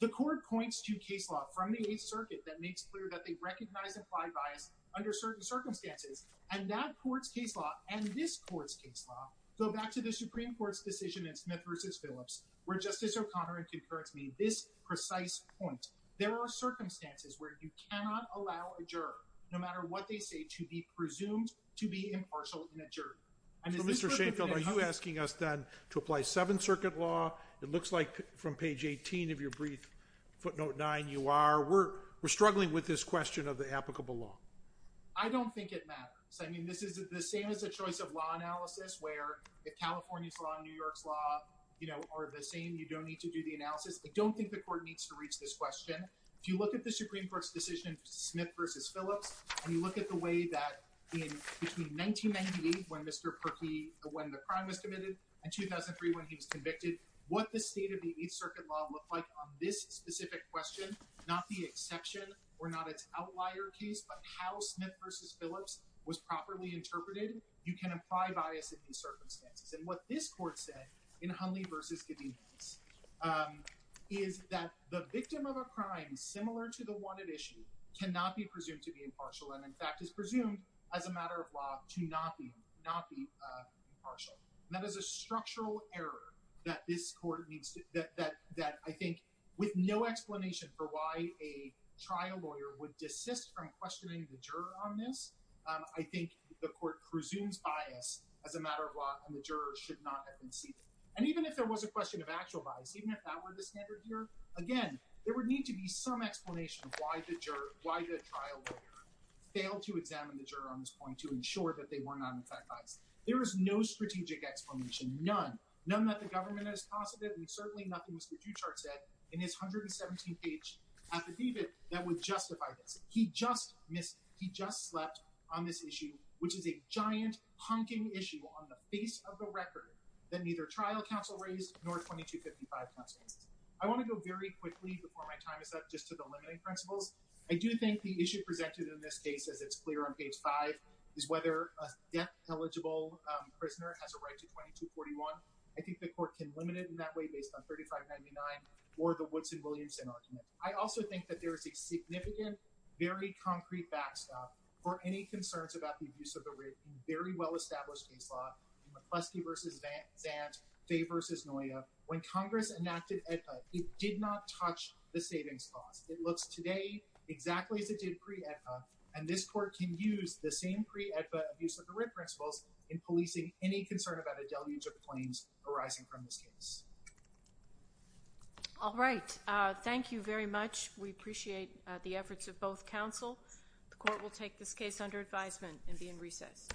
The court points to case law from the Eighth Circuit that makes clear that they recognize implied bias under certain circumstances and that court's case law and this court's case law go back to the Supreme Court's decision in Smith v. Phillips where Justice O'Connor and concurrence made this precise point. There are circumstances where you cannot allow a juror, no matter what they say, to be presumed to be impartial in a jury. So, Mr. Sheinfeld, are you asking us then to apply Seventh Circuit law? It looks like from page 18 of your brief, footnote 9, you are. We're struggling with this question of the applicable law. I don't think it matters. I mean, this is the same as a choice of law analysis where if California's law and New York's law are the same, you don't need to do the analysis. I don't think the court needs to reach this question. If you look at the Supreme Court's decision, Smith v. Phillips, and you look at the way that in between 1998 when Mr. Perkey, when the crime was committed, and 2003 when he was convicted, what the state of the Eighth Circuit law looked like on this specific question, not the exception or not its outlier case, but how Smith v. Phillips was properly interpreted, you can apply bias in these circumstances. And what this court said in Hunley v. Cadenas is that the victim of a crime similar to the one at issue cannot be presumed to be impartial and, in fact, is presumed as a matter of law to not be impartial. That is a structural error that this court needs to— that I think with no explanation for why a trial lawyer would desist from questioning the juror on this, I think the court presumes bias as a matter of law, and the juror should not have been seated. And even if there was a question of actual bias, even if that were the standard here, again, there would need to be some explanation of why the trial lawyer failed to examine the juror on this point to ensure that they were not in fact biased. There is no strategic explanation, none, none that the government has posited, and certainly nothing Mr. Duchart said in his 117th page affidavit that would justify this. He just missed—he just slept on this issue, which is a giant honking issue on the face of the record that neither trial counsel raised nor 2255 counsel raised. I want to go very quickly before my time is up just to the limiting principles. I do think the issue presented in this case, as it's clear on page 5, is whether a death-eligible prisoner has a right to 2241. I think the court can limit it in that way based on 3599 or the Woodson-Williamson argument. I also think that there is a significant, very concrete backstop for any concerns about the abuse of the writ in very well-established case law in McCleskey v. Zant, Fay v. Noya. When Congress enacted AEDPA, it did not touch the savings clause. It looks today exactly as it did pre-AEDPA, and this court can use the same pre-AEDPA abuse of the writ principles in policing any concern about a deluge of claims arising from this case. All right. Thank you very much. We appreciate the efforts of both counsel. The court will take this case under advisement and be in recess.